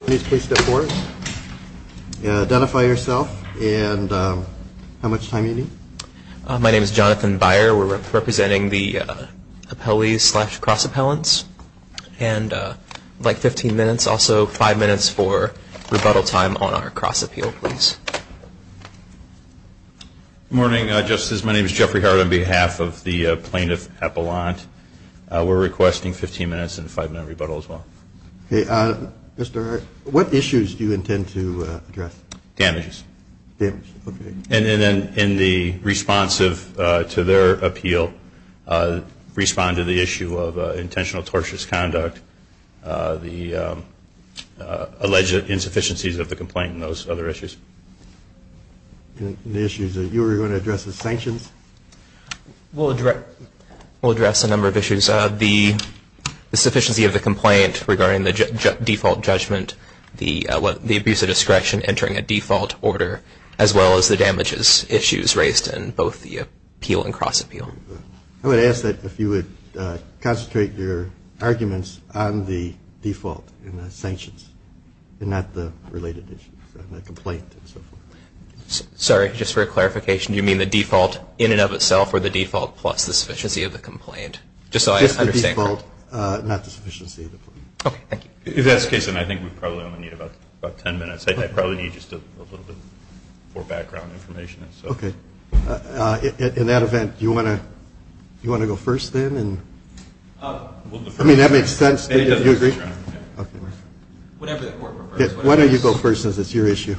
Please step forward. Identify yourself and how much time you need. My name is Jonathan Byer. We're representing the appellees slash cross appellants. And I'd like 15 minutes, also five minutes for rebuttal time on our cross appeal, please. Good morning, Justices. My name is Jeffrey Hart on behalf of the plaintiff appellant. We're requesting 15 minutes and a five-minute rebuttal as well. Okay. Mr. Hart, what issues do you intend to address? Damages. Damages. Okay. And then in the response to their appeal, respond to the issue of intentional torturous conduct, the alleged insufficiencies of the complaint and those other issues. And the issues that you were going to address as sanctions? We'll address a number of issues. First, the sufficiency of the complaint regarding the default judgment, the abuse of discretion entering a default order, as well as the damages issues raised in both the appeal and cross appeal. I would ask that if you would concentrate your arguments on the default and the sanctions and not the related issues, the complaint and so forth. Sorry, just for clarification, do you mean the default in and of itself or the default plus the sufficiency of the complaint? Just so I understand. Just the default, not the sufficiency of the complaint. Okay. Thank you. If that's the case, then I think we probably only need about ten minutes. I probably need just a little bit more background information. Okay. In that event, do you want to go first then? I mean, that makes sense. Do you agree? Whatever the court prefers. Okay. Why don't you go first since it's your issue?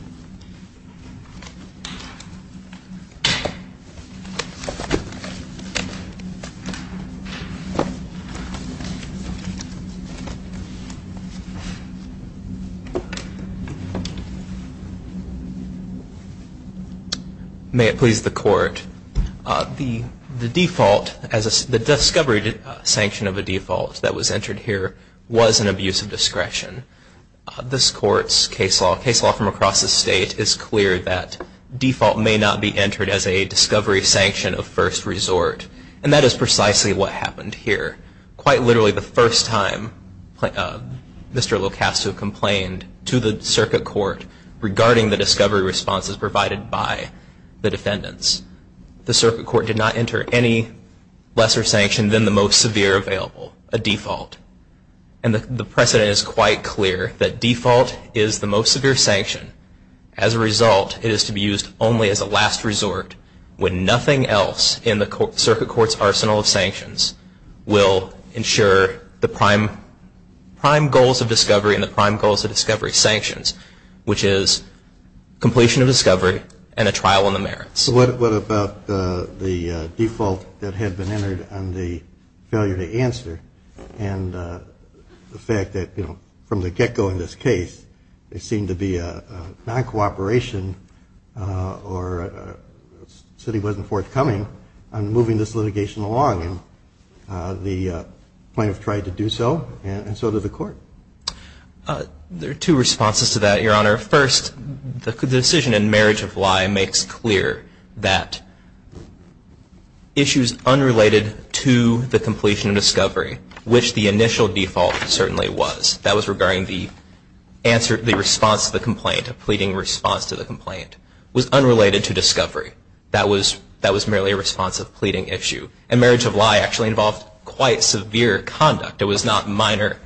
May it please the Court, the default, the discovery sanction of a default that was entered here was an abuse of discretion. This Court's case law, case law from across the state, is clear that default may not be entered as a discovery sanction of first resort. And that is precisely what happened here. Quite literally the first time Mr. Locascio complained to the circuit court regarding the discovery responses provided by the defendants, the circuit court did not enter any lesser sanction than the most severe available, a default. And the precedent is quite clear that default is the most severe sanction. As a result, it is to be used only as a last resort when nothing else in the circuit court's arsenal of sanctions will ensure the prime goals of discovery and the prime goals of discovery sanctions, which is completion of discovery and a trial on the merits. So what about the default that had been entered and the failure to answer and the fact that, you know, from the get-go in this case, there seemed to be a non-cooperation or a city wasn't forthcoming on moving this litigation along. And the plaintiff tried to do so and so did the court. There are two responses to that, Your Honor. First, the decision in marriage of lie makes clear that issues unrelated to the completion of discovery, which the initial default certainly was, that was regarding the response to the complaint, a pleading response to the complaint, was unrelated to discovery. That was merely a response of pleading issue. And marriage of lie actually involved quite severe conduct. It was not minor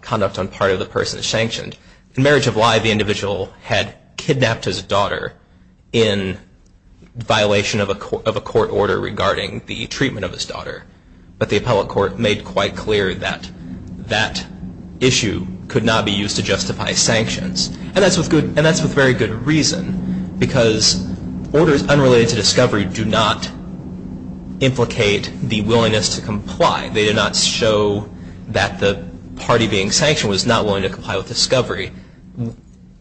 conduct on part of the person sanctioned. In marriage of lie, the individual had kidnapped his daughter in violation of a court order regarding the treatment of his daughter. But the appellate court made quite clear that that issue could not be used to justify sanctions. And that's with very good reason because orders unrelated to discovery do not implicate the willingness to comply. They do not show that the party being sanctioned was not willing to comply with discovery.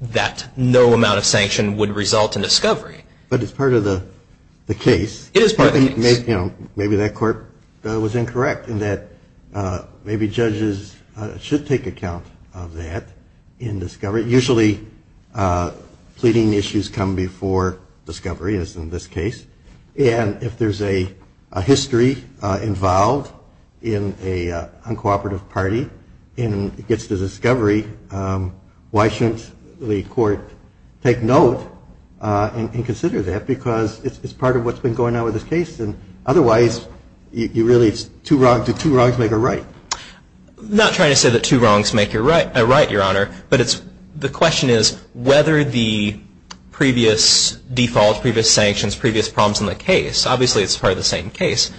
That no amount of sanction would result in discovery. But it's part of the case. It is part of the case. Maybe that court was incorrect in that maybe judges should take account of that in discovery. Usually pleading issues come before discovery, as in this case. And if there's a history involved in a uncooperative party and it gets to discovery, why shouldn't the court take note and consider that? Because it's part of what's been going on with this case. And otherwise, you really do two wrongs make a right. I'm not trying to say that two wrongs make a right, Your Honor. But the question is whether the previous default, previous sanctions, previous problems in the case, obviously it's part of the same case,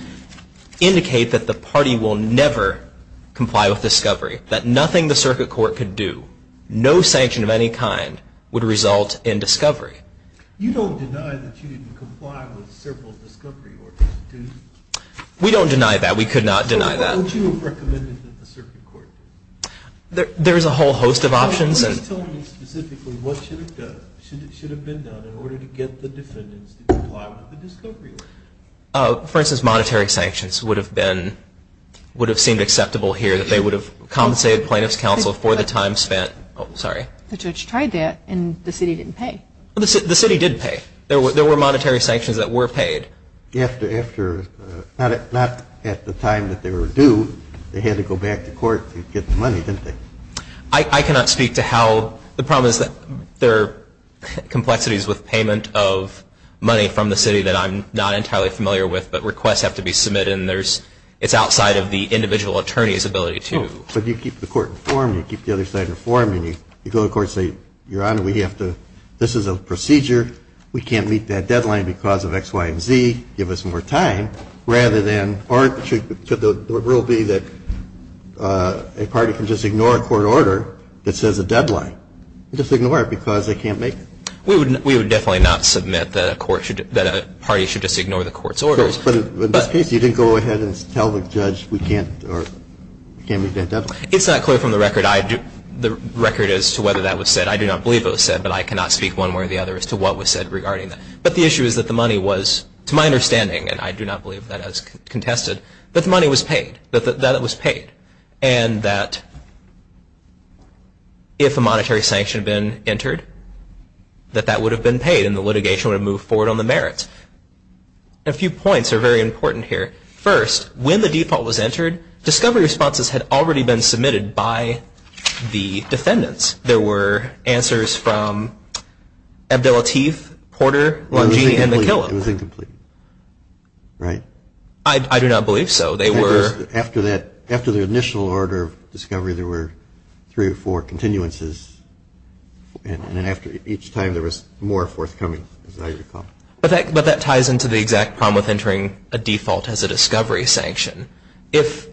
indicate that the party will never comply with discovery, that nothing the circuit court could do, no sanction of any kind, would result in discovery. You don't deny that you didn't comply with several discovery orders, do you? We don't deny that. We could not deny that. So what would you have recommended that the circuit court do? There is a whole host of options. Can you tell me specifically what should have been done in order to get the defendants to comply with the discovery order? For instance, monetary sanctions would have been, would have seemed acceptable here, that they would have compensated plaintiff's counsel for the time spent. The judge tried that and the city didn't pay. The city did pay. There were monetary sanctions that were paid. Not at the time that they were due. They had to go back to court to get the money, didn't they? I cannot speak to how. The problem is that there are complexities with payment of money from the city that I'm not entirely familiar with, but requests have to be submitted and it's outside of the individual attorney's ability to. But you keep the court informed and you keep the other side informed and you go to court and say, Your Honor, this is a procedure. We can't meet that deadline because of X, Y, and Z. Give us more time. Rather than, or should the rule be that a party can just ignore a court order that says a deadline. Just ignore it because they can't make it. We would definitely not submit that a court should, that a party should just ignore the court's orders. But in this case, you didn't go ahead and tell the judge we can't, or we can't meet that deadline. It's not clear from the record I do, the record as to whether that was said. I do not believe it was said, but I cannot speak one way or the other as to what was said regarding that. But the issue is that the money was, to my understanding, and I do not believe that as contested, that the money was paid. That it was paid. And that if a monetary sanction had been entered, that that would have been paid and the litigation would have moved forward on the merits. A few points are very important here. First, when the default was entered, discovery responses had already been submitted by the defendants. There were answers from Abdel Latif, Porter, Longini, and McKillop. It was incomplete, right? I do not believe so. After the initial order of discovery, there were three or four continuances. And then after each time, there was more forthcoming, as I recall. But that ties into the exact problem with entering a default as a discovery sanction. If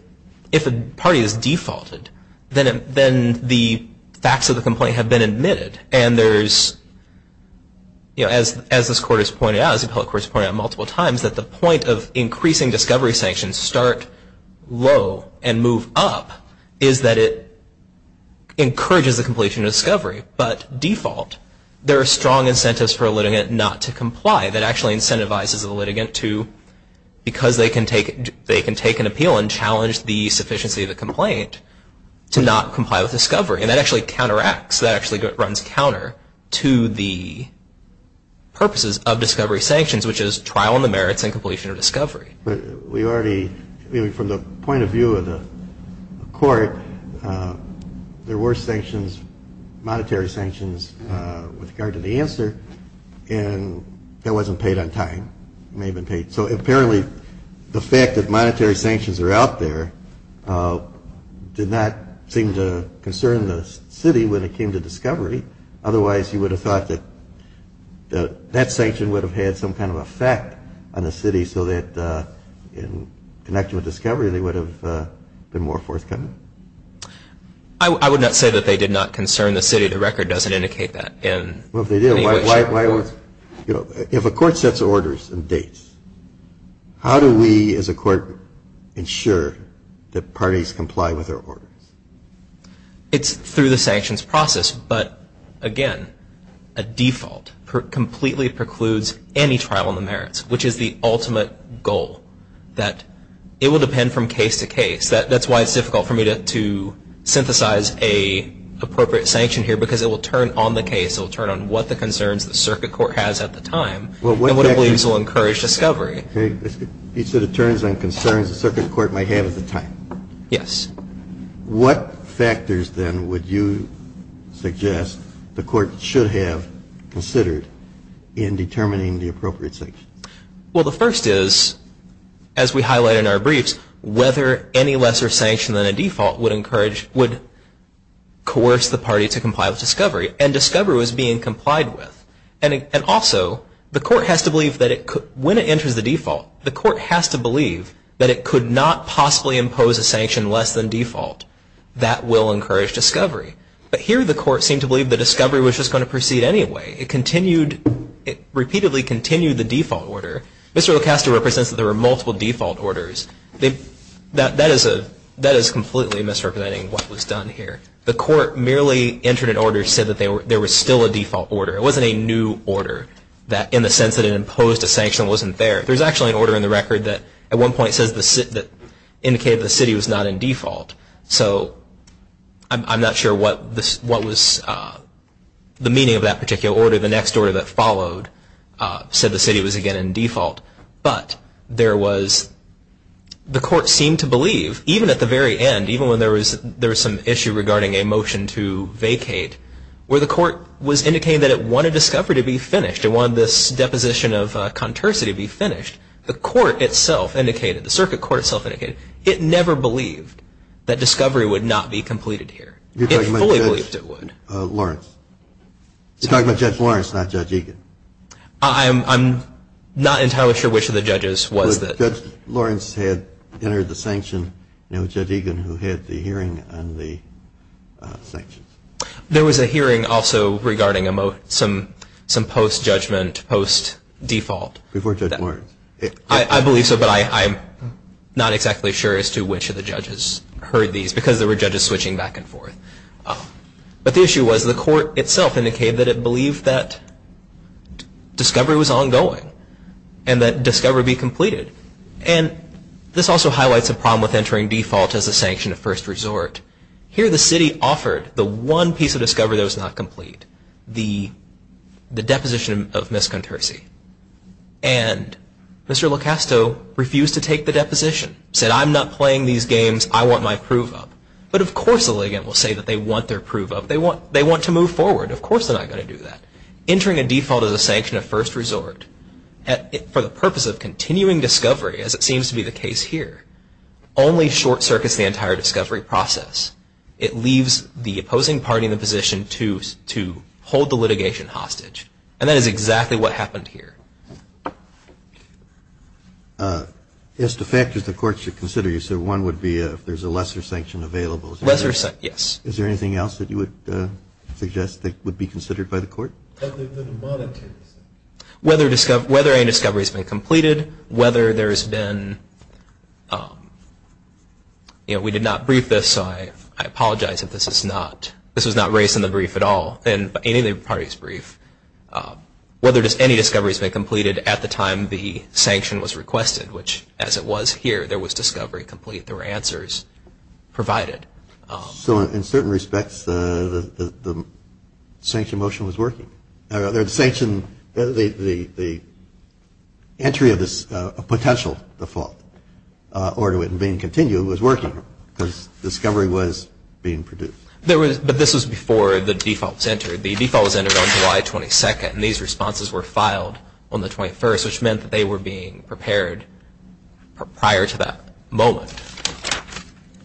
a party is defaulted, then the facts of the complaint have been admitted. And there is, you know, as this court has pointed out, as the appellate court has pointed out multiple times, that the point of increasing discovery sanctions start low and move up is that it encourages the completion of discovery. But default, there are strong incentives for a litigant not to comply. That actually incentivizes the litigant to, because they can take an appeal and challenge the sufficiency of the complaint, to not comply with discovery. And that actually counteracts. That actually runs counter to the purposes of discovery sanctions, which is trial on the merits and completion of discovery. We already, from the point of view of the court, there were sanctions, monetary sanctions, with regard to the answer. And that wasn't paid on time. It may have been paid. So apparently, the fact that monetary sanctions are out there did not seem to concern the city when it came to discovery. Otherwise, you would have thought that that sanction would have had some kind of effect on the city so that, in connection with discovery, they would have been more forthcoming. I would not say that they did not concern the city. The record doesn't indicate that. If a court sets orders and dates, how do we, as a court, ensure that parties comply with their orders? It's through the sanctions process. But, again, a default completely precludes any trial on the merits, which is the ultimate goal, that it will depend from case to case. That's why it's difficult for me to synthesize an appropriate sanction here, because it will turn on the case. It will turn on what the concerns the circuit court has at the time and what it believes will encourage discovery. So it turns on concerns the circuit court might have at the time. Yes. What factors, then, would you suggest the court should have considered in determining the appropriate sanctions? Well, the first is, as we highlight in our briefs, whether any lesser sanction than a default would encourage or would coerce the party to comply with discovery. And discovery was being complied with. And also, the court has to believe that when it enters the default, the court has to believe that it could not possibly impose a sanction less than default. That will encourage discovery. But here the court seemed to believe the discovery was just going to proceed anyway. It repeatedly continued the default order. Mr. Ocasio represents that there were multiple default orders. That is completely misrepresenting what was done here. The court merely entered an order to say that there was still a default order. It wasn't a new order in the sense that it imposed a sanction that wasn't there. There's actually an order in the record that, at one point, indicated the city was not in default. So I'm not sure what was the meaning of that particular order. The next order that followed said the city was again in default. But there was the court seemed to believe, even at the very end, even when there was some issue regarding a motion to vacate, where the court was indicating that it wanted discovery to be finished. It wanted this deposition of contursity to be finished. The court itself indicated, the circuit court itself indicated, it never believed that discovery would not be completed here. It fully believed it would. You're talking about Judge Lawrence, not Judge Egan. I'm not entirely sure which of the judges was that. Judge Lawrence had entered the sanction. Judge Egan, who had the hearing on the sanctions. There was a hearing also regarding some post-judgment, post-default. Before Judge Lawrence. I believe so, but I'm not exactly sure as to which of the judges heard these because there were judges switching back and forth. But the issue was the court itself indicated that it believed that discovery was ongoing and that discovery be completed. And this also highlights a problem with entering default as a sanction of first resort. Here the city offered the one piece of discovery that was not complete, the deposition of miscontursy. And Mr. LoCasto refused to take the deposition, said I'm not playing these games, I want my proof up. But of course the litigant will say that they want their proof up. They want to move forward. Of course they're not going to do that. Entering a default as a sanction of first resort for the purpose of continuing discovery, as it seems to be the case here, only short circuits the entire discovery process. It leaves the opposing party in the position to hold the litigation hostage. And that is exactly what happened here. As to factors the court should consider, one would be if there's a lesser sanction available. Yes. Is there anything else that you would suggest that would be considered by the court? Whether any discovery has been completed, whether there has been, we did not brief this so I apologize if this is not, this was not raised in the brief at all, in any of the parties' brief. Whether any discovery has been completed at the time the sanction was requested, which as it was here, there was discovery complete. There were answers provided. So in certain respects the sanction motion was working. The sanction, the entry of this potential default order and being continued was working because discovery was being produced. There was, but this was before the default was entered. The default was entered on July 22nd and these responses were filed on the 21st, which meant that they were being prepared prior to that moment.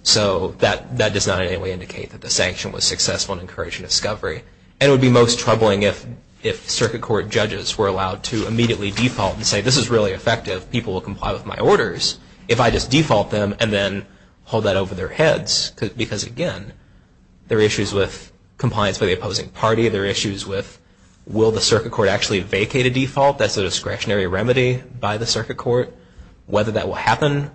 So that does not in any way indicate that the sanction was successful in encouraging discovery. And it would be most troubling if circuit court judges were allowed to immediately default and say this is really effective, people will comply with my orders, if I just default them and then hold that over their heads. Because again, there are issues with compliance by the opposing party. There are issues with will the circuit court actually vacate a default? That's a discretionary remedy by the circuit court. Whether that will happen,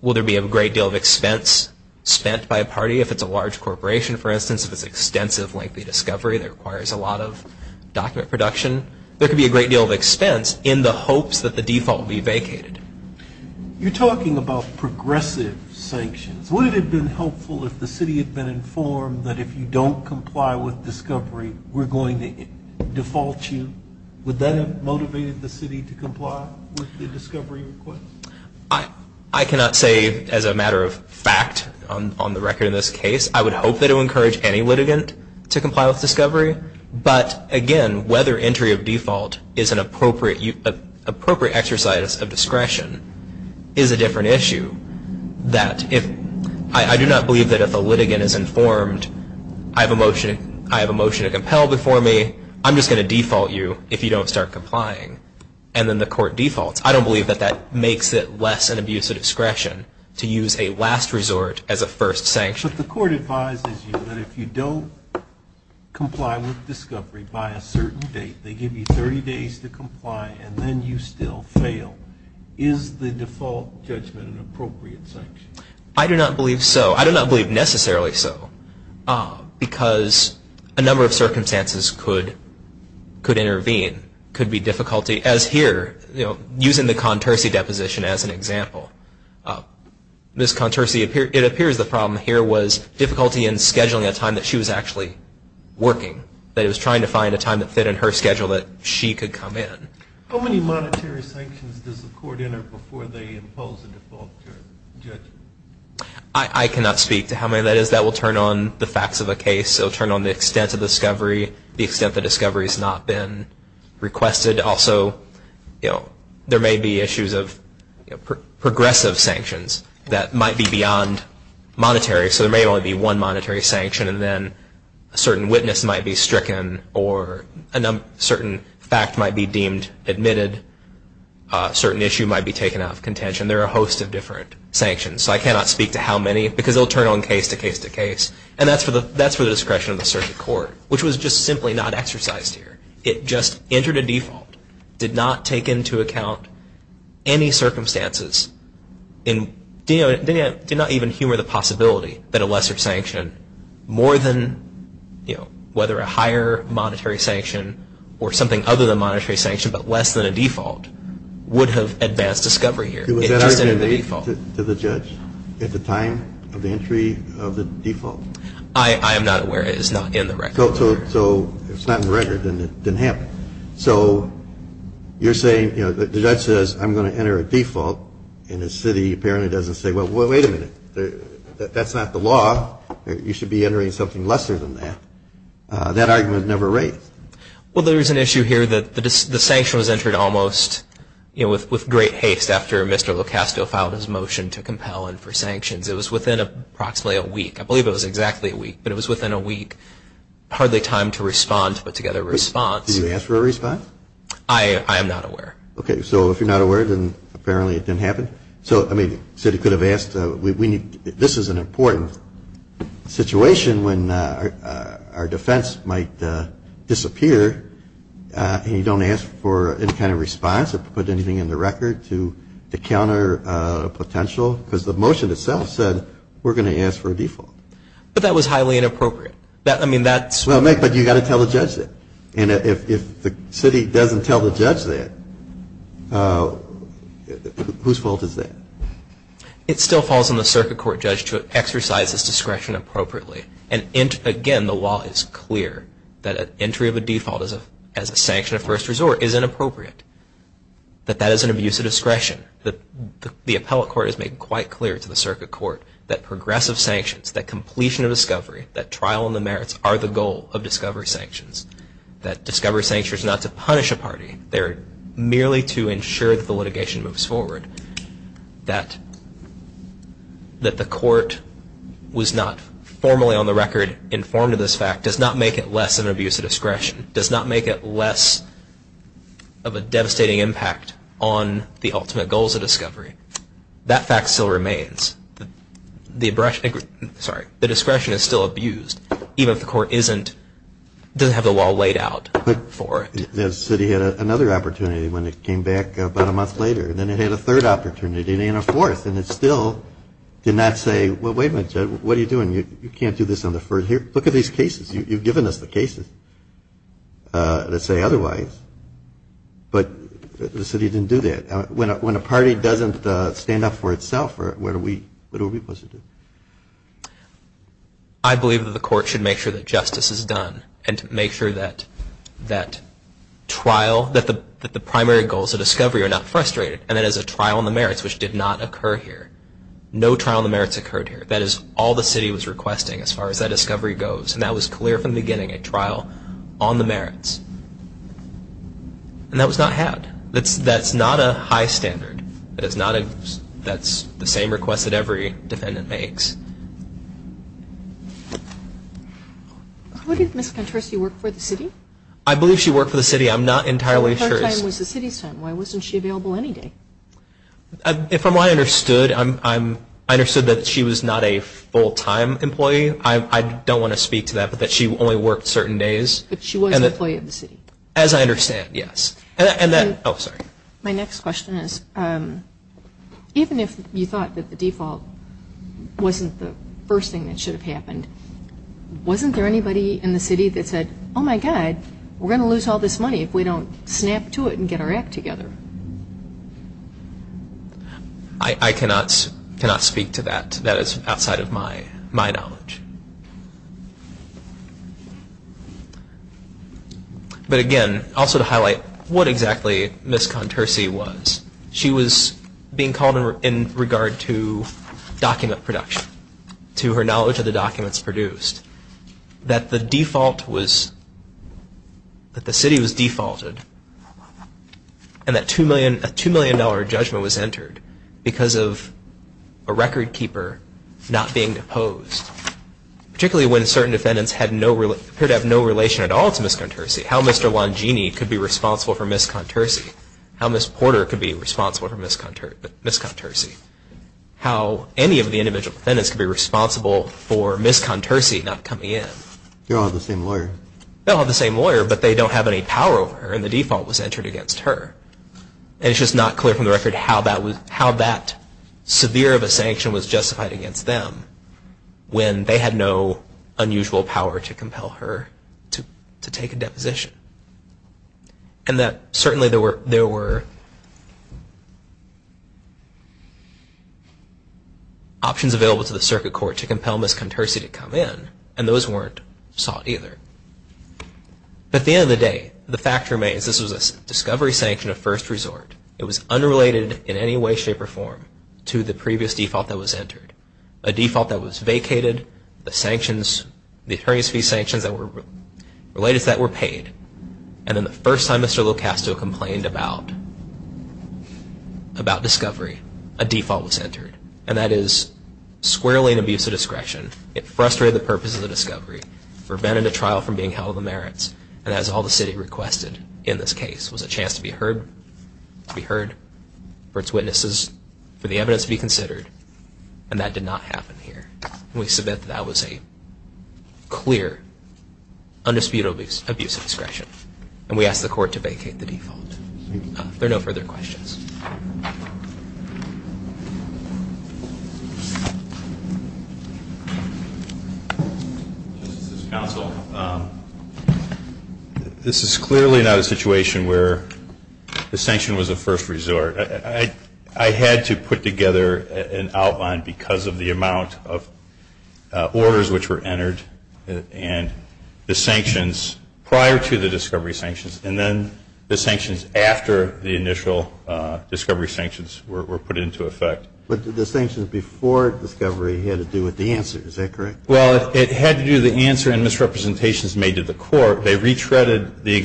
will there be a great deal of expense spent by a party? If it's a large corporation, for instance, if it's extensive, lengthy discovery that requires a lot of document production, there could be a great deal of expense in the hopes that the default would be vacated. You're talking about progressive sanctions. Would it have been helpful if the city had been informed that if you don't comply with discovery, we're going to default you? Would that have motivated the city to comply with the discovery request? I cannot say as a matter of fact on the record in this case. I would hope that it would encourage any litigant to comply with discovery. But again, whether entry of default is an appropriate exercise of discretion is a different issue. I do not believe that if a litigant is informed, I have a motion to compel before me, I'm just going to default you if you don't start complying. And then the court defaults. I don't believe that that makes it less an abuse of discretion to use a last resort as a first sanction. But the court advises you that if you don't comply with discovery by a certain date, they give you 30 days to comply, and then you still fail. Is the default judgment an appropriate sanction? I do not believe so. I do not believe necessarily so, because a number of circumstances could intervene. It could be difficulty, as here, using the Contersi deposition as an example. Ms. Contersi, it appears the problem here was difficulty in scheduling a time that she was actually working, that it was trying to find a time that fit in her schedule that she could come in. How many monetary sanctions does the court enter before they impose a default judgment? I cannot speak to how many that is. That will turn on the facts of a case. It will turn on the extent of discovery, the extent that discovery has not been requested. Also, there may be issues of progressive sanctions that might be beyond monetary, so there may only be one monetary sanction, and then a certain witness might be stricken or a certain fact might be deemed admitted. A certain issue might be taken out of contention. There are a host of different sanctions, so I cannot speak to how many, because it will turn on case to case to case, and that is for the discretion of the circuit court, which was just simply not exercised here. It just entered a default, did not take into account any circumstances, and did not even humor the possibility that a lesser sanction, more than, you know, whether a higher monetary sanction or something other than monetary sanction but less than a default, would have advanced discovery here. It just entered a default. Was that argument made to the judge at the time of the entry of the default? I am not aware. It is not in the record. So if it is not in the record, then it did not happen. So you are saying, you know, the judge says, I am going to enter a default and the city apparently does not say, well, wait a minute, that is not the law. You should be entering something lesser than that. That argument never raised. Well, there is an issue here that the sanction was entered almost, you know, with great haste after Mr. LoCasto filed his motion to compel him for sanctions. It was within approximately a week. I believe it was exactly a week, but it was within a week. Hardly time to respond to put together a response. Did you ask for a response? I am not aware. Okay. So if you are not aware, then apparently it did not happen. So, I mean, the city could have asked, this is an important situation when our defense might disappear and you do not ask for any kind of response or put anything in the record to counter potential because the motion itself said we are going to ask for a default. But that was highly inappropriate. Well, but you have got to tell the judge that. And if the city does not tell the judge that, whose fault is that? It still falls on the circuit court judge to exercise his discretion appropriately. And, again, the law is clear that entry of a default as a sanction of first resort is inappropriate, that that is an abuse of discretion. The appellate court has made quite clear to the circuit court that progressive sanctions, that completion of discovery, that trial on the merits are the goal of discovery sanctions, that discovery sanctions are not to punish a party. They are merely to ensure that the litigation moves forward. That the court was not formally on the record informed of this fact does not make it less of an abuse of discretion, does not make it less of a devastating impact on the ultimate goals of discovery. That fact still remains. The discretion is still abused, even if the court doesn't have the law laid out for it. But the city had another opportunity when it came back about a month later. Then it had a third opportunity and a fourth. And it still did not say, well, wait a minute, judge, what are you doing? You can't do this on the first hearing. Look at these cases. You've given us the cases that say otherwise. But the city didn't do that. When a party doesn't stand up for itself, what are we supposed to do? I believe that the court should make sure that justice is done and make sure that the primary goals of discovery are not frustrated and that it is a trial on the merits, which did not occur here. No trial on the merits occurred here. That is all the city was requesting as far as that discovery goes. And that was clear from the beginning, a trial on the merits. And that was not had. That's not a high standard. That's the same request that every defendant makes. Who did Ms. Contorsi work for, the city? I believe she worked for the city. I'm not entirely sure. Her time was the city's time. Why wasn't she available any day? From what I understood, I understood that she was not a full-time employee. I don't want to speak to that, but that she only worked certain days. But she was an employee of the city. As I understand, yes. My next question is, even if you thought that the default wasn't the first thing that should have happened, wasn't there anybody in the city that said, oh, my God, we're going to lose all this money if we don't snap to it and get our act together? I cannot speak to that. That is outside of my knowledge. But, again, also to highlight what exactly Ms. Contorsi was. She was being called in regard to document production, to her knowledge of the documents produced, that the default was that the city was defaulted and that a $2 million judgment was entered because of a record keeper not being deposed. Particularly when certain defendants appear to have no relation at all to Ms. Contorsi. How Mr. Longini could be responsible for Ms. Contorsi. How Ms. Porter could be responsible for Ms. Contorsi. How any of the individual defendants could be responsible for Ms. Contorsi not coming in. They all have the same lawyer. They all have the same lawyer, but they don't have any power over her and the default was entered against her. And it's just not clear from the record how that severe of a sanction was justified against them when they had no unusual power to compel her to take a deposition. And that certainly there were options available to the circuit court to compel Ms. Contorsi to come in and those weren't sought either. But at the end of the day, the fact remains, this was a discovery sanction of first resort. It was unrelated in any way, shape, or form to the previous default that was entered. A default that was vacated. The sanctions, the attorney's fee sanctions that were related to that were paid. And then the first time Mr. LoCasto complained about discovery, a default was entered. And that is squarely an abuse of discretion. It frustrated the purpose of the discovery. Prevented a trial from being held to the merits. And that is all the city requested in this case was a chance to be heard, to be heard for its witnesses, for the evidence to be considered. And that did not happen here. And we submit that that was a clear, undisputable abuse of discretion. And we ask the court to vacate the default. If there are no further questions. Counsel, this is clearly not a situation where the sanction was a first resort. I had to put together an outline because of the amount of orders which were entered. And the sanctions prior to the discovery sanctions. And then the sanctions after the initial discovery sanctions were put into effect. But the sanctions before discovery had to do with the answer. Is that correct? Well, it had to do with the answer and misrepresentations made to the court. And that was a motion to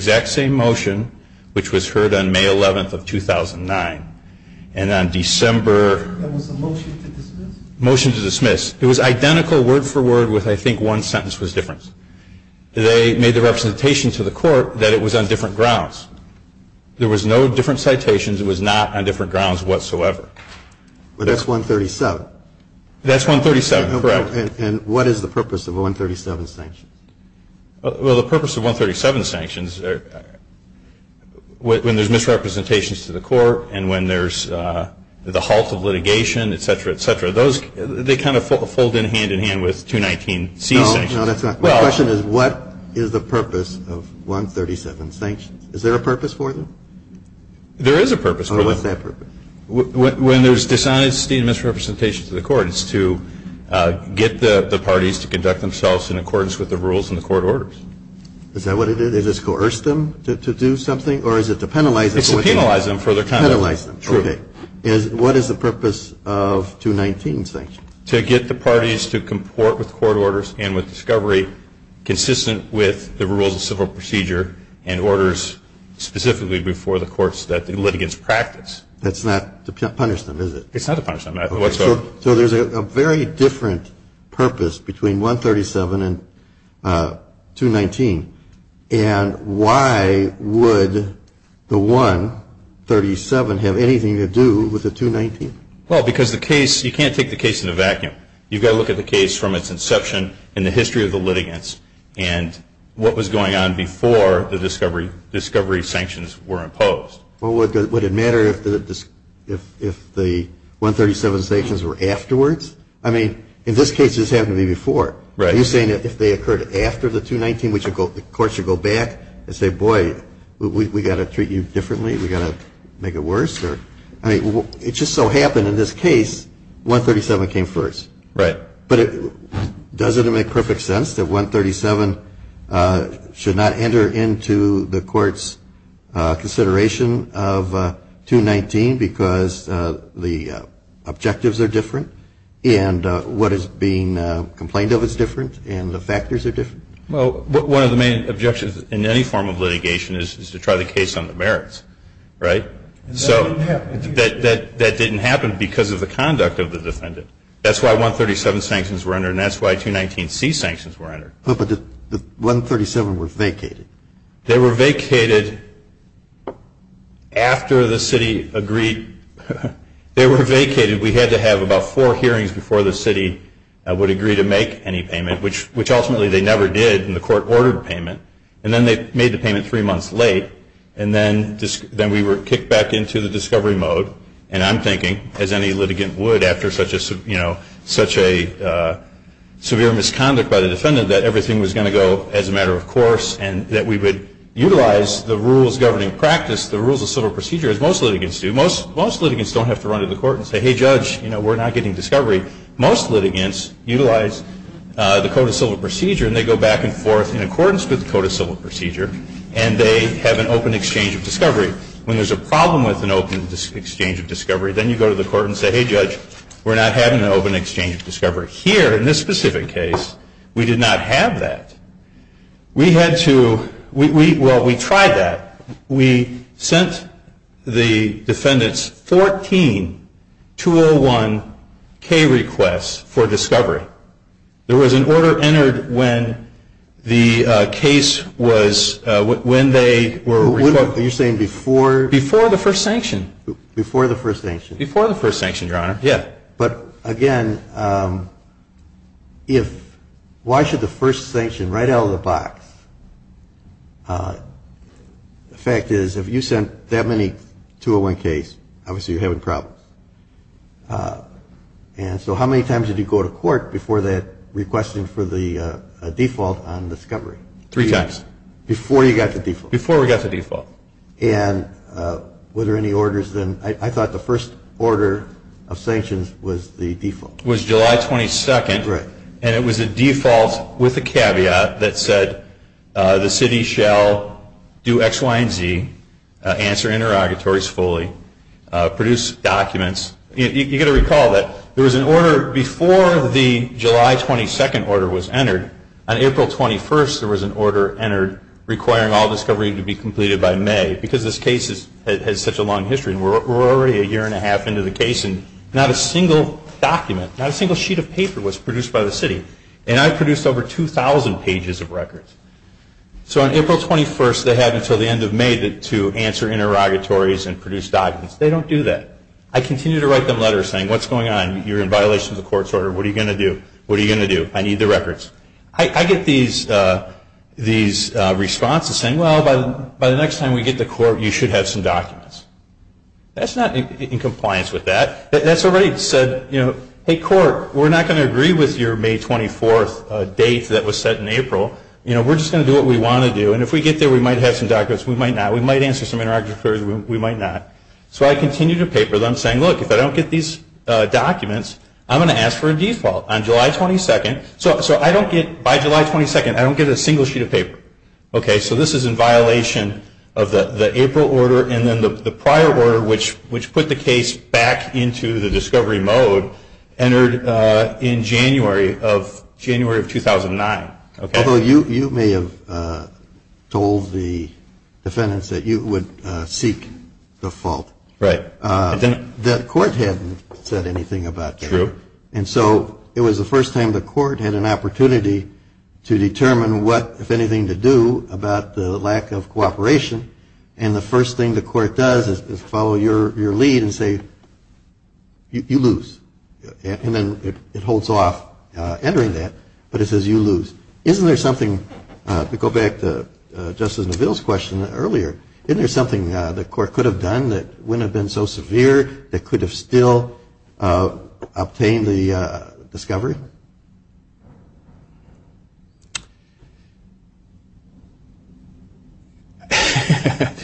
dismiss? Motion to dismiss. It was identical word for word with I think one sentence was different. They made the representation to the court that it was on different grounds. There was no different citations. It was not on different grounds whatsoever. But that's 137. That's 137, correct. Well, the purpose of 137 sanctions is to make it clear to the court that the purpose of 137 sanctions, when there's misrepresentations to the court and when there's the halt of litigation, et cetera, et cetera, they kind of fold in hand-in-hand with 219C sanctions. No, that's not. My question is what is the purpose of 137 sanctions? Is there a purpose for them? There is a purpose for them. What's that purpose? When there's dishonesty and misrepresentations to the court, it's to get the parties to conduct themselves in accordance with the rules and the court orders. Is that what it is? Is it to coerce them to do something or is it to penalize them? It's to penalize them for their conduct. Penalize them. Okay. What is the purpose of 219 sanctions? To get the parties to comport with court orders and with discovery consistent with the rules of civil procedure and orders specifically before the courts that the litigants practice. That's not to punish them, is it? It's not to punish them whatsoever. So there's a very different purpose between 137 and 219. And why would the 137 have anything to do with the 219? Well, because the case, you can't take the case in a vacuum. You've got to look at the case from its inception and the history of the litigants and what was going on before the discovery sanctions were imposed. Well, would it matter if the 137 sanctions were afterwards? I mean, in this case, this happened to me before. Right. Are you saying that if they occurred after the 219, the court should go back and say, boy, we've got to treat you differently, we've got to make it worse? I mean, it just so happened in this case, 137 came first. Right. But doesn't it make perfect sense that 137 should not enter into the court's consideration of 219 because the objectives are different and what is being complained of is different and the factors are different? Well, one of the main objections in any form of litigation is to try the case on the merits. Right? So that didn't happen because of the conduct of the defendant. That's why 137 sanctions were entered and that's why 219C sanctions were entered. But the 137 were vacated. They were vacated after the city agreed. They were vacated. We had to have about four hearings before the city would agree to make any payment, which ultimately they never did and the court ordered payment. And then they made the payment three months late and then we were kicked back into the discovery mode. And I'm thinking, as any litigant would after such a severe misconduct by the defendant, that everything was going to go as a matter of course and that we would utilize the rules governing practice, the rules of civil procedure as most litigants do. Most litigants don't have to run to the court and say, hey, judge, we're not getting discovery. Most litigants utilize the code of civil procedure and they go back and forth in accordance with the code of civil procedure and they have an open exchange of discovery. When there's a problem with an open exchange of discovery, then you go to the court and say, hey, judge, we're not having an open exchange of discovery. Here in this specific case, we did not have that. We had to – well, we tried that. We sent the defendants 14 201K requests for discovery. There was an order entered when the case was – when they were – So you're saying before – Before the first sanction. Before the first sanction. Before the first sanction, Your Honor. Yeah. But, again, if – why should the first sanction right out of the box – the fact is if you sent that many 201Ks, obviously you're having problems. And so how many times did you go to court before that requesting for the default on discovery? Three times. Before you got the default. And were there any orders then? I thought the first order of sanctions was the default. It was July 22nd. Right. And it was a default with a caveat that said the city shall do X, Y, and Z, answer interrogatories fully, produce documents. You've got to recall that there was an order before the July 22nd order was entered. On April 21st, there was an order entered requiring all discovery to be completed by May because this case has such a long history and we're already a year and a half into the case and not a single document, not a single sheet of paper was produced by the city. And I produced over 2,000 pages of records. So on April 21st, they had until the end of May to answer interrogatories and produce documents. They don't do that. I continue to write them letters saying what's going on? You're in violation of the court's order. What are you going to do? What are you going to do? I need the records. I get these responses saying, well, by the next time we get to court, you should have some documents. That's not in compliance with that. That's already said, you know, hey, court, we're not going to agree with your May 24th date that was set in April. You know, we're just going to do what we want to do. And if we get there, we might have some documents. We might not. We might answer some interrogatories. We might not. So I continue to paper them saying, look, if I don't get these documents, I'm going to ask for a default. On July 22nd, so I don't get, by July 22nd, I don't get a single sheet of paper. Okay, so this is in violation of the April order and then the prior order, which put the case back into the discovery mode, entered in January of 2009. Although you may have told the defendants that you would seek default. Right. The court hadn't said anything about that. True. And so it was the first time the court had an opportunity to determine what, if anything, to do about the lack of cooperation. And the first thing the court does is follow your lead and say, you lose. And then it holds off entering that. But it says you lose. Isn't there something, to go back to Justice Neville's question earlier, isn't there something the court could have done that wouldn't have been so severe, that could have still obtained the discovery?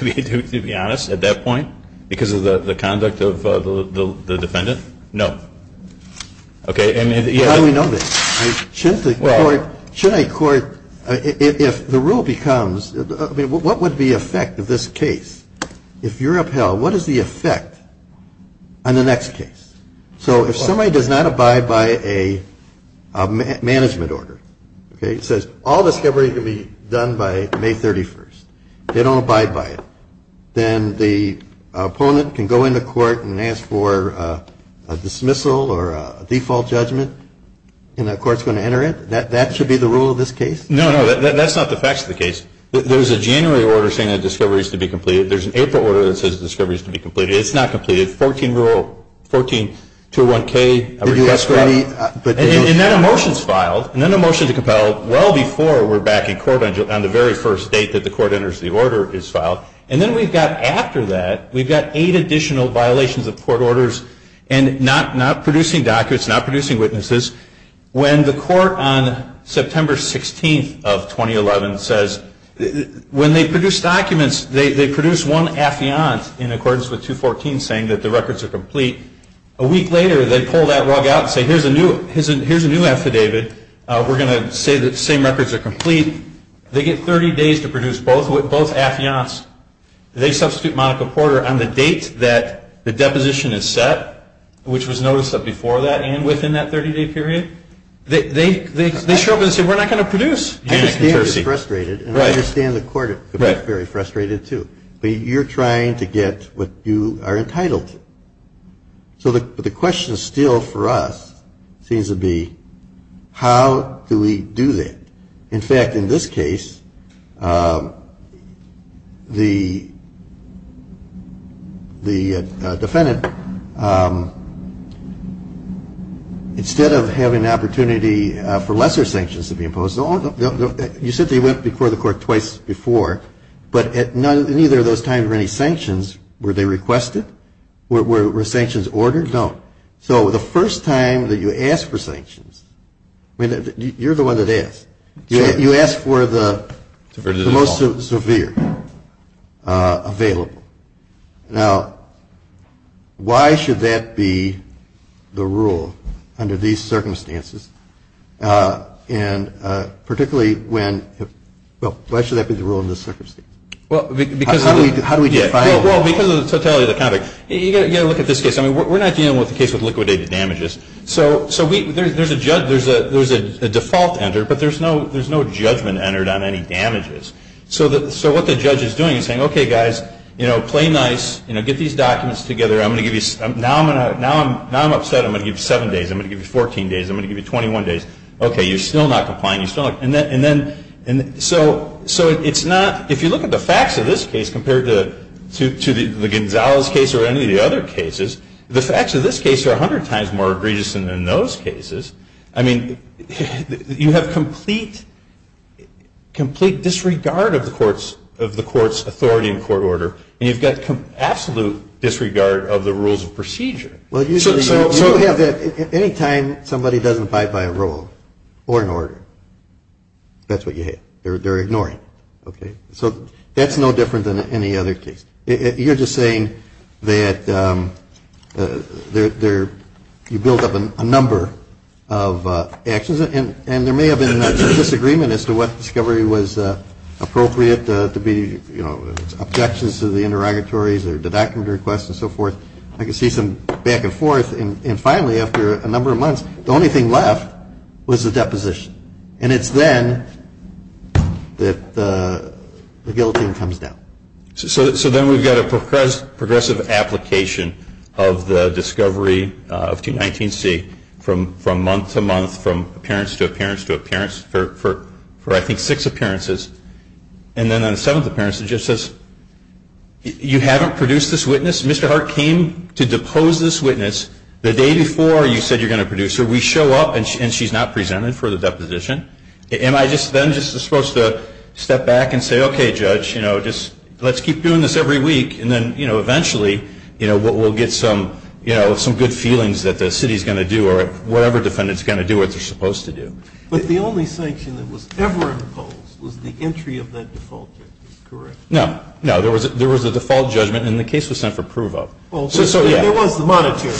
To be honest, at that point, because of the conduct of the defendant, no. Okay. How do we know this? Should a court, if the rule becomes, I mean, what would be the effect of this case? If you're upheld, what is the effect on the next case? So if somebody does not abide by a management order, okay, it says all discovery can be done by May 31st, they don't abide by it, then the opponent can go into court and ask for a dismissal or a default judgment, and the court's going to enter it? That should be the rule of this case? No, no, that's not the facts of the case. There's a January order saying that discovery is to be completed. There's an April order that says discovery is to be completed. It's not completed. Fourteen rule, 14-201-K. And then a motion is filed, and then a motion to compel well before we're back in court on the very first date that the court enters the order is filed. And then we've got, after that, we've got eight additional violations of court orders and not producing documents, not producing witnesses. When the court on September 16th of 2011 says, when they produce documents, they produce one affiant in accordance with 214 saying that the records are complete. A week later, they pull that rug out and say, here's a new affidavit. We're going to say that the same records are complete. They get 30 days to produce both affiants. They substitute Monica Porter on the date that the deposition is set, which was noticed before that and within that 30-day period. They show up and say, we're not going to produce. I understand the court could be very frustrated, too. But you're trying to get what you are entitled to. But the question still for us seems to be, how do we do that? In fact, in this case, the defendant, instead of having an opportunity for lesser sanctions to be imposed, you said they went before the court twice before. But at neither of those times were any sanctions, were they requested? Were sanctions ordered? No. So the first time that you ask for sanctions, I mean, you're the one that asked. You asked for the most severe available. Now, why should that be the rule under these circumstances? And particularly when, well, why should that be the rule in this circumstance? How do we define it? Well, because of the totality of the topic. You've got to look at this case. I mean, we're not dealing with a case with liquidated damages. So there's a default enter, but there's no judgment entered on any damages. So what the judge is doing is saying, okay, guys, play nice. Get these documents together. Now I'm upset. I'm going to give you seven days. I'm going to give you 14 days. I'm going to give you 21 days. Okay, you're still not complying. So it's not, if you look at the facts of this case compared to the Gonzalez case or any of the other cases, the facts of this case are 100 times more egregious than those cases. I mean, you have complete disregard of the court's authority and court order, and you've got absolute disregard of the rules of procedure. Anytime somebody doesn't abide by a rule or an order, that's what you hit. They're ignoring it. So that's no different than any other case. You're just saying that you built up a number of actions, and there may have been a disagreement as to what discovery was appropriate to be, you know, objections to the interrogatories or deducting requests and so forth. I can see some back and forth. And finally, after a number of months, the only thing left was the deposition. And it's then that the guillotine comes down. So then we've got a progressive application of the discovery of 219C from month to month, from appearance to appearance to appearance for, I think, six appearances. And then on the seventh appearance, it just says, you haven't produced this witness. Mr. Hart came to depose this witness the day before you said you're going to produce her. We show up, and she's not presented for the deposition. Am I then just supposed to step back and say, okay, judge, you know, just let's keep doing this every week, and then, you know, eventually, you know, we'll get some, you know, some good feelings that the city's going to do or whatever defendant's going to do what they're supposed to do. But the only sanction that was ever imposed was the entry of that default judgment, correct? No. No, there was a default judgment, and the case was sent for approval. Well, there was the monetary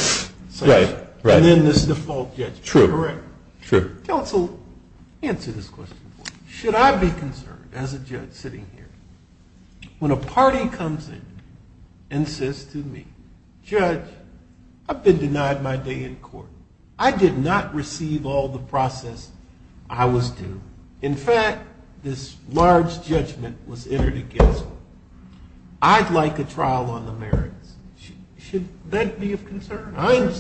sanction. Right, right. And then this default judgment, correct? True, true. Counsel, answer this question for me. Should I be concerned as a judge sitting here when a party comes in and says to me, judge, I've been denied my day in court. I did not receive all the process I was due. In fact, this large judgment was entered against me. I'd like a trial on the merits. Should that be of concern?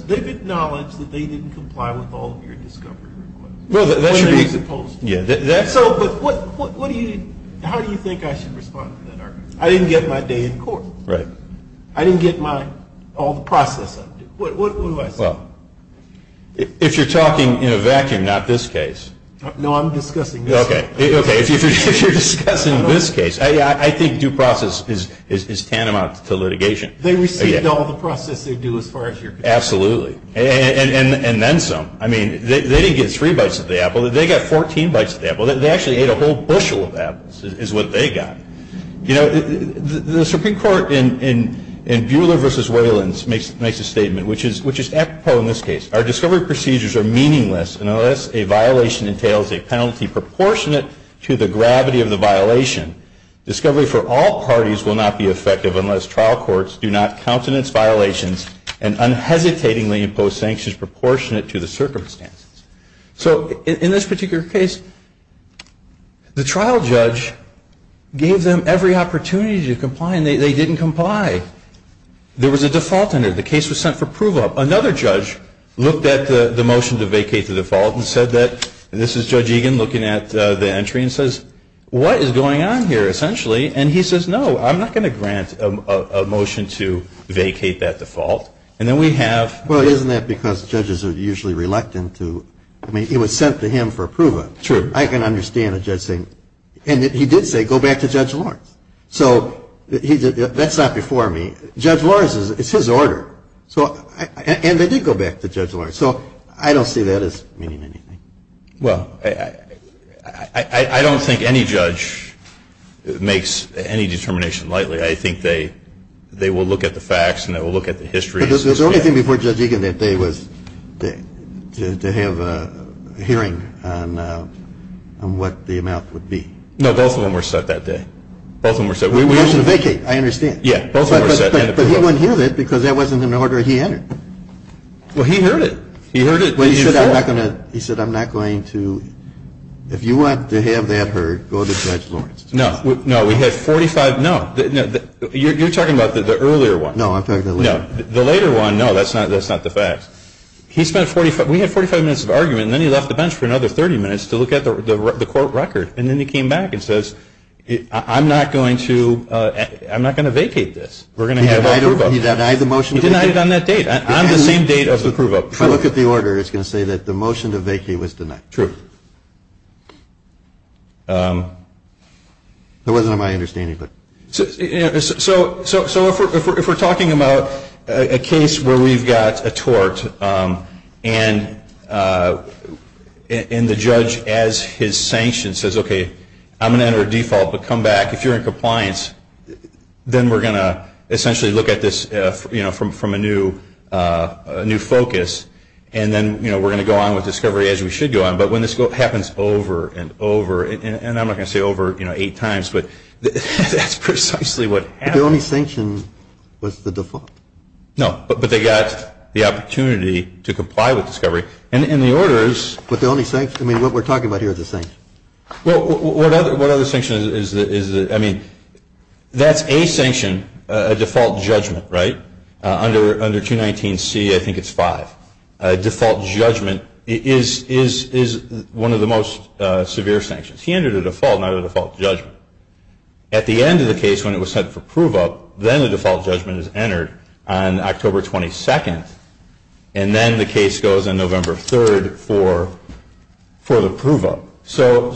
They've acknowledged that they didn't comply with all of your discovery requirements. Well, that should be. Or they were supposed to. Yeah, that's. So, but what do you, how do you think I should respond to that argument? I didn't get my day in court. Right. I didn't get my, all the process I was due. What do I say? Well, if you're talking in a vacuum, not this case. No, I'm discussing this case. Okay. If you're discussing this case, I think due process is tantamount to litigation. They received all the process they due as far as you're concerned. Absolutely. And then some. I mean, they didn't get three bites of the apple. They got 14 bites of the apple. They actually ate a whole bushel of apples is what they got. You know, the Supreme Court in Buehler v. Waylands makes a statement, which is apropos in this case. Our discovery procedures are meaningless unless a violation entails a penalty proportionate to the gravity of the violation. Discovery for all parties will not be effective unless trial courts do not countenance violations and unhesitatingly impose sanctions proportionate to the circumstances. So, in this particular case, the trial judge gave them every opportunity to comply, and they didn't comply. There was a default under it. The case was sent for approval. Another judge looked at the motion to vacate the default and said that, and this is Judge Egan looking at the entry and says, what is going on here essentially? And he says, no, I'm not going to grant a motion to vacate that default. And then we have. Well, isn't that because judges are usually reluctant to. I mean, it was sent to him for approval. True. I can understand a judge saying. And he did say, go back to Judge Lawrence. So, that's not before me. Judge Lawrence, it's his order. And they did go back to Judge Lawrence. So, I don't see that as meaning anything. Well, I don't think any judge makes any determination lightly. I think they will look at the facts and they will look at the history. The only thing before Judge Egan that day was to have a hearing on what the amount would be. No, both of them were set that day. Both of them were set. Motion to vacate, I understand. Yeah, both of them were set. But he wouldn't hear that because that wasn't an order he entered. Well, he heard it. He heard it. Well, he said, I'm not going to. He said, I'm not going to. If you want to have that heard, go to Judge Lawrence. No, we had 45. No, you're talking about the earlier one. No, I'm talking about the later one. No, the later one, no, that's not the facts. He spent 45. We had 45 minutes of argument. And then he left the bench for another 30 minutes to look at the court record. And then he came back and says, I'm not going to vacate this. He denied the motion to vacate. He denied it on that date. On the same date as the prove up. If I look at the order, it's going to say that the motion to vacate was denied. True. It wasn't on my understanding. So if we're talking about a case where we've got a tort and the judge, as his sanction, says, okay, I'm going to enter a default but come back. If you're in compliance, then we're going to essentially look at this from a new focus. And then we're going to go on with discovery as we should go on. But when this happens over and over, and I'm not going to say over eight times, but that's precisely what happened. The only sanction was the default. No, but they got the opportunity to comply with discovery. And the order is. But the only sanction, I mean, what we're talking about here is the sanction. Well, what other sanction is it? I mean, that's a sanction, a default judgment, right? Under 219C, I think it's five. A default judgment is one of the most severe sanctions. He entered a default, not a default judgment. At the end of the case when it was sent for prove up, then the default judgment is entered on October 22nd. And then the case goes on November 3rd for the prove up. So,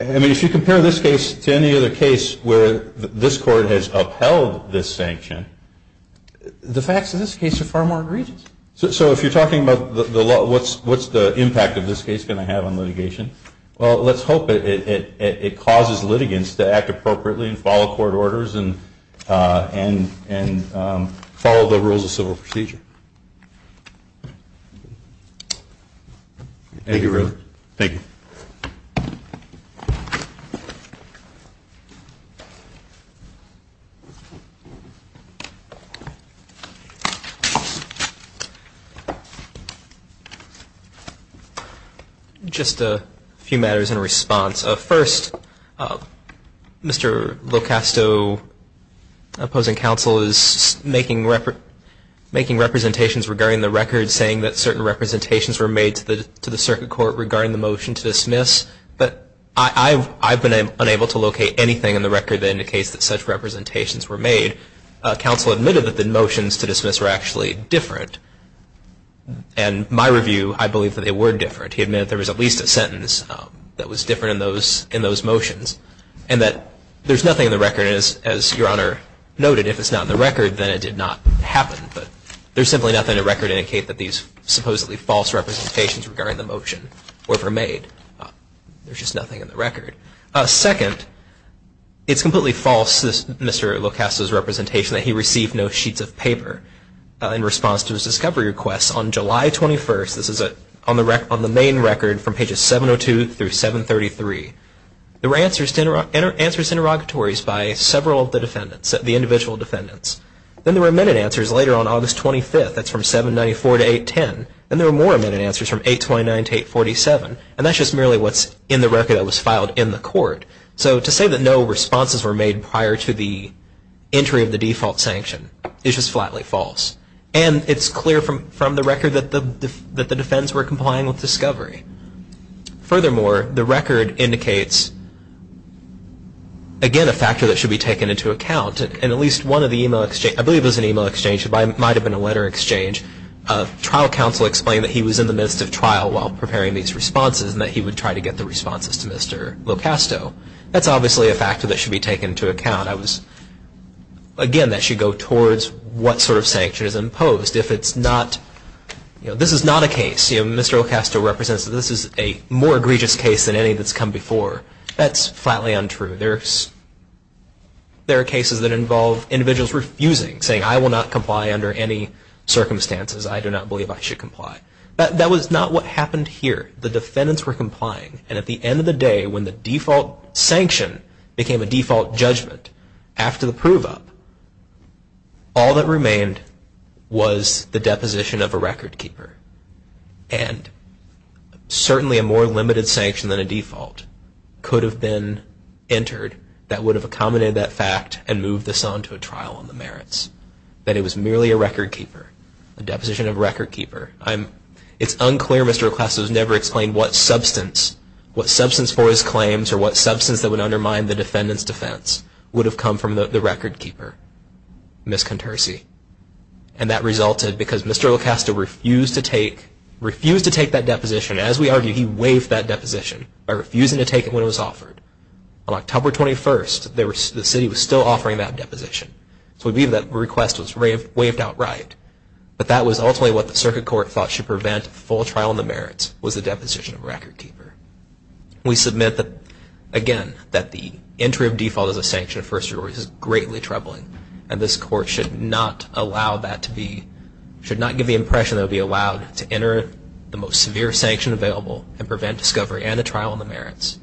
I mean, if you compare this case to any other case where this court has upheld this sanction, the facts of this case are far more egregious. So if you're talking about what's the impact of this case going to have on litigation, well, let's hope it causes litigants to act appropriately and follow court orders and follow the rules of civil procedure. Thank you, really. Thank you. Thank you. Just a few matters in response. First, Mr. LoCasto, opposing counsel, is making representations regarding the record saying that certain representations were made to the circuit court regarding the motion to dismiss. But I've been unable to locate anything in the record that indicates that such representations were made. Counsel admitted that the motions to dismiss were actually different. And my review, I believe that they were different. He admitted there was at least a sentence that was different in those motions and that there's nothing in the record, as Your Honor noted. If it's not in the record, then it did not happen. But there's simply nothing in the record to indicate that these supposedly false representations regarding the motion were ever made. There's just nothing in the record. Second, it's completely false, Mr. LoCasto's representation, that he received no sheets of paper. In response to his discovery request, on July 21st, this is on the main record from pages 702 through 733, there were answers to interrogatories by several of the defendants, the individual defendants. Then there were amended answers later on August 25th. That's from 794 to 810. Then there were more amended answers from 829 to 847. And that's just merely what's in the record that was filed in the court. So to say that no responses were made prior to the entry of the default sanction is just flatly false. And it's clear from the record that the defendants were complying with discovery. Furthermore, the record indicates, again, a factor that should be taken into account. In at least one of the email exchanges, I believe it was an email exchange, it might have been a letter exchange, trial counsel explained that he was in the midst of trial while preparing these responses and that he would try to get the responses to Mr. LoCasto. That's obviously a factor that should be taken into account. Again, that should go towards what sort of sanction is imposed. If it's not, you know, this is not a case. Mr. LoCasto represents that this is a more egregious case than any that's come before. That's flatly untrue. There are cases that involve individuals refusing, saying I will not comply under any circumstances. I do not believe I should comply. That was not what happened here. The defendants were complying. And at the end of the day, when the default sanction became a default judgment, after the prove up, all that remained was the deposition of a record keeper. And certainly a more limited sanction than a default could have been entered that would have accommodated that fact and moved this on to a trial on the merits. That it was merely a record keeper, a deposition of a record keeper. It's unclear Mr. LoCasto has never explained what substance, what substance for his claims or what substance that would undermine the defendant's defense would have come from the record keeper, Ms. Contersi. And that resulted because Mr. LoCasto refused to take that deposition. As we argued, he waived that deposition by refusing to take it when it was offered. On October 21st, the city was still offering that deposition. So we believe that request was waived outright. But that was ultimately what the circuit court thought should prevent a full trial on the merits, was the deposition of a record keeper. We submit that, again, that the entry of default as a sanction of first degree is greatly troubling. And this court should not allow that to be, should not give the impression that it would be allowed to enter the most severe sanction available and prevent discovery and a trial on the merits.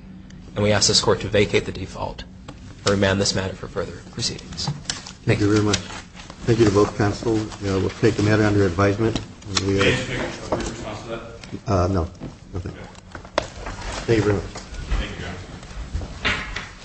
And we ask this court to vacate the default and remand this matter for further proceedings. Thank you very much. Thank you to both counsels. We'll take the matter under advisement. May I ask for your response to that? No. Okay. Thank you very much. Thank you guys.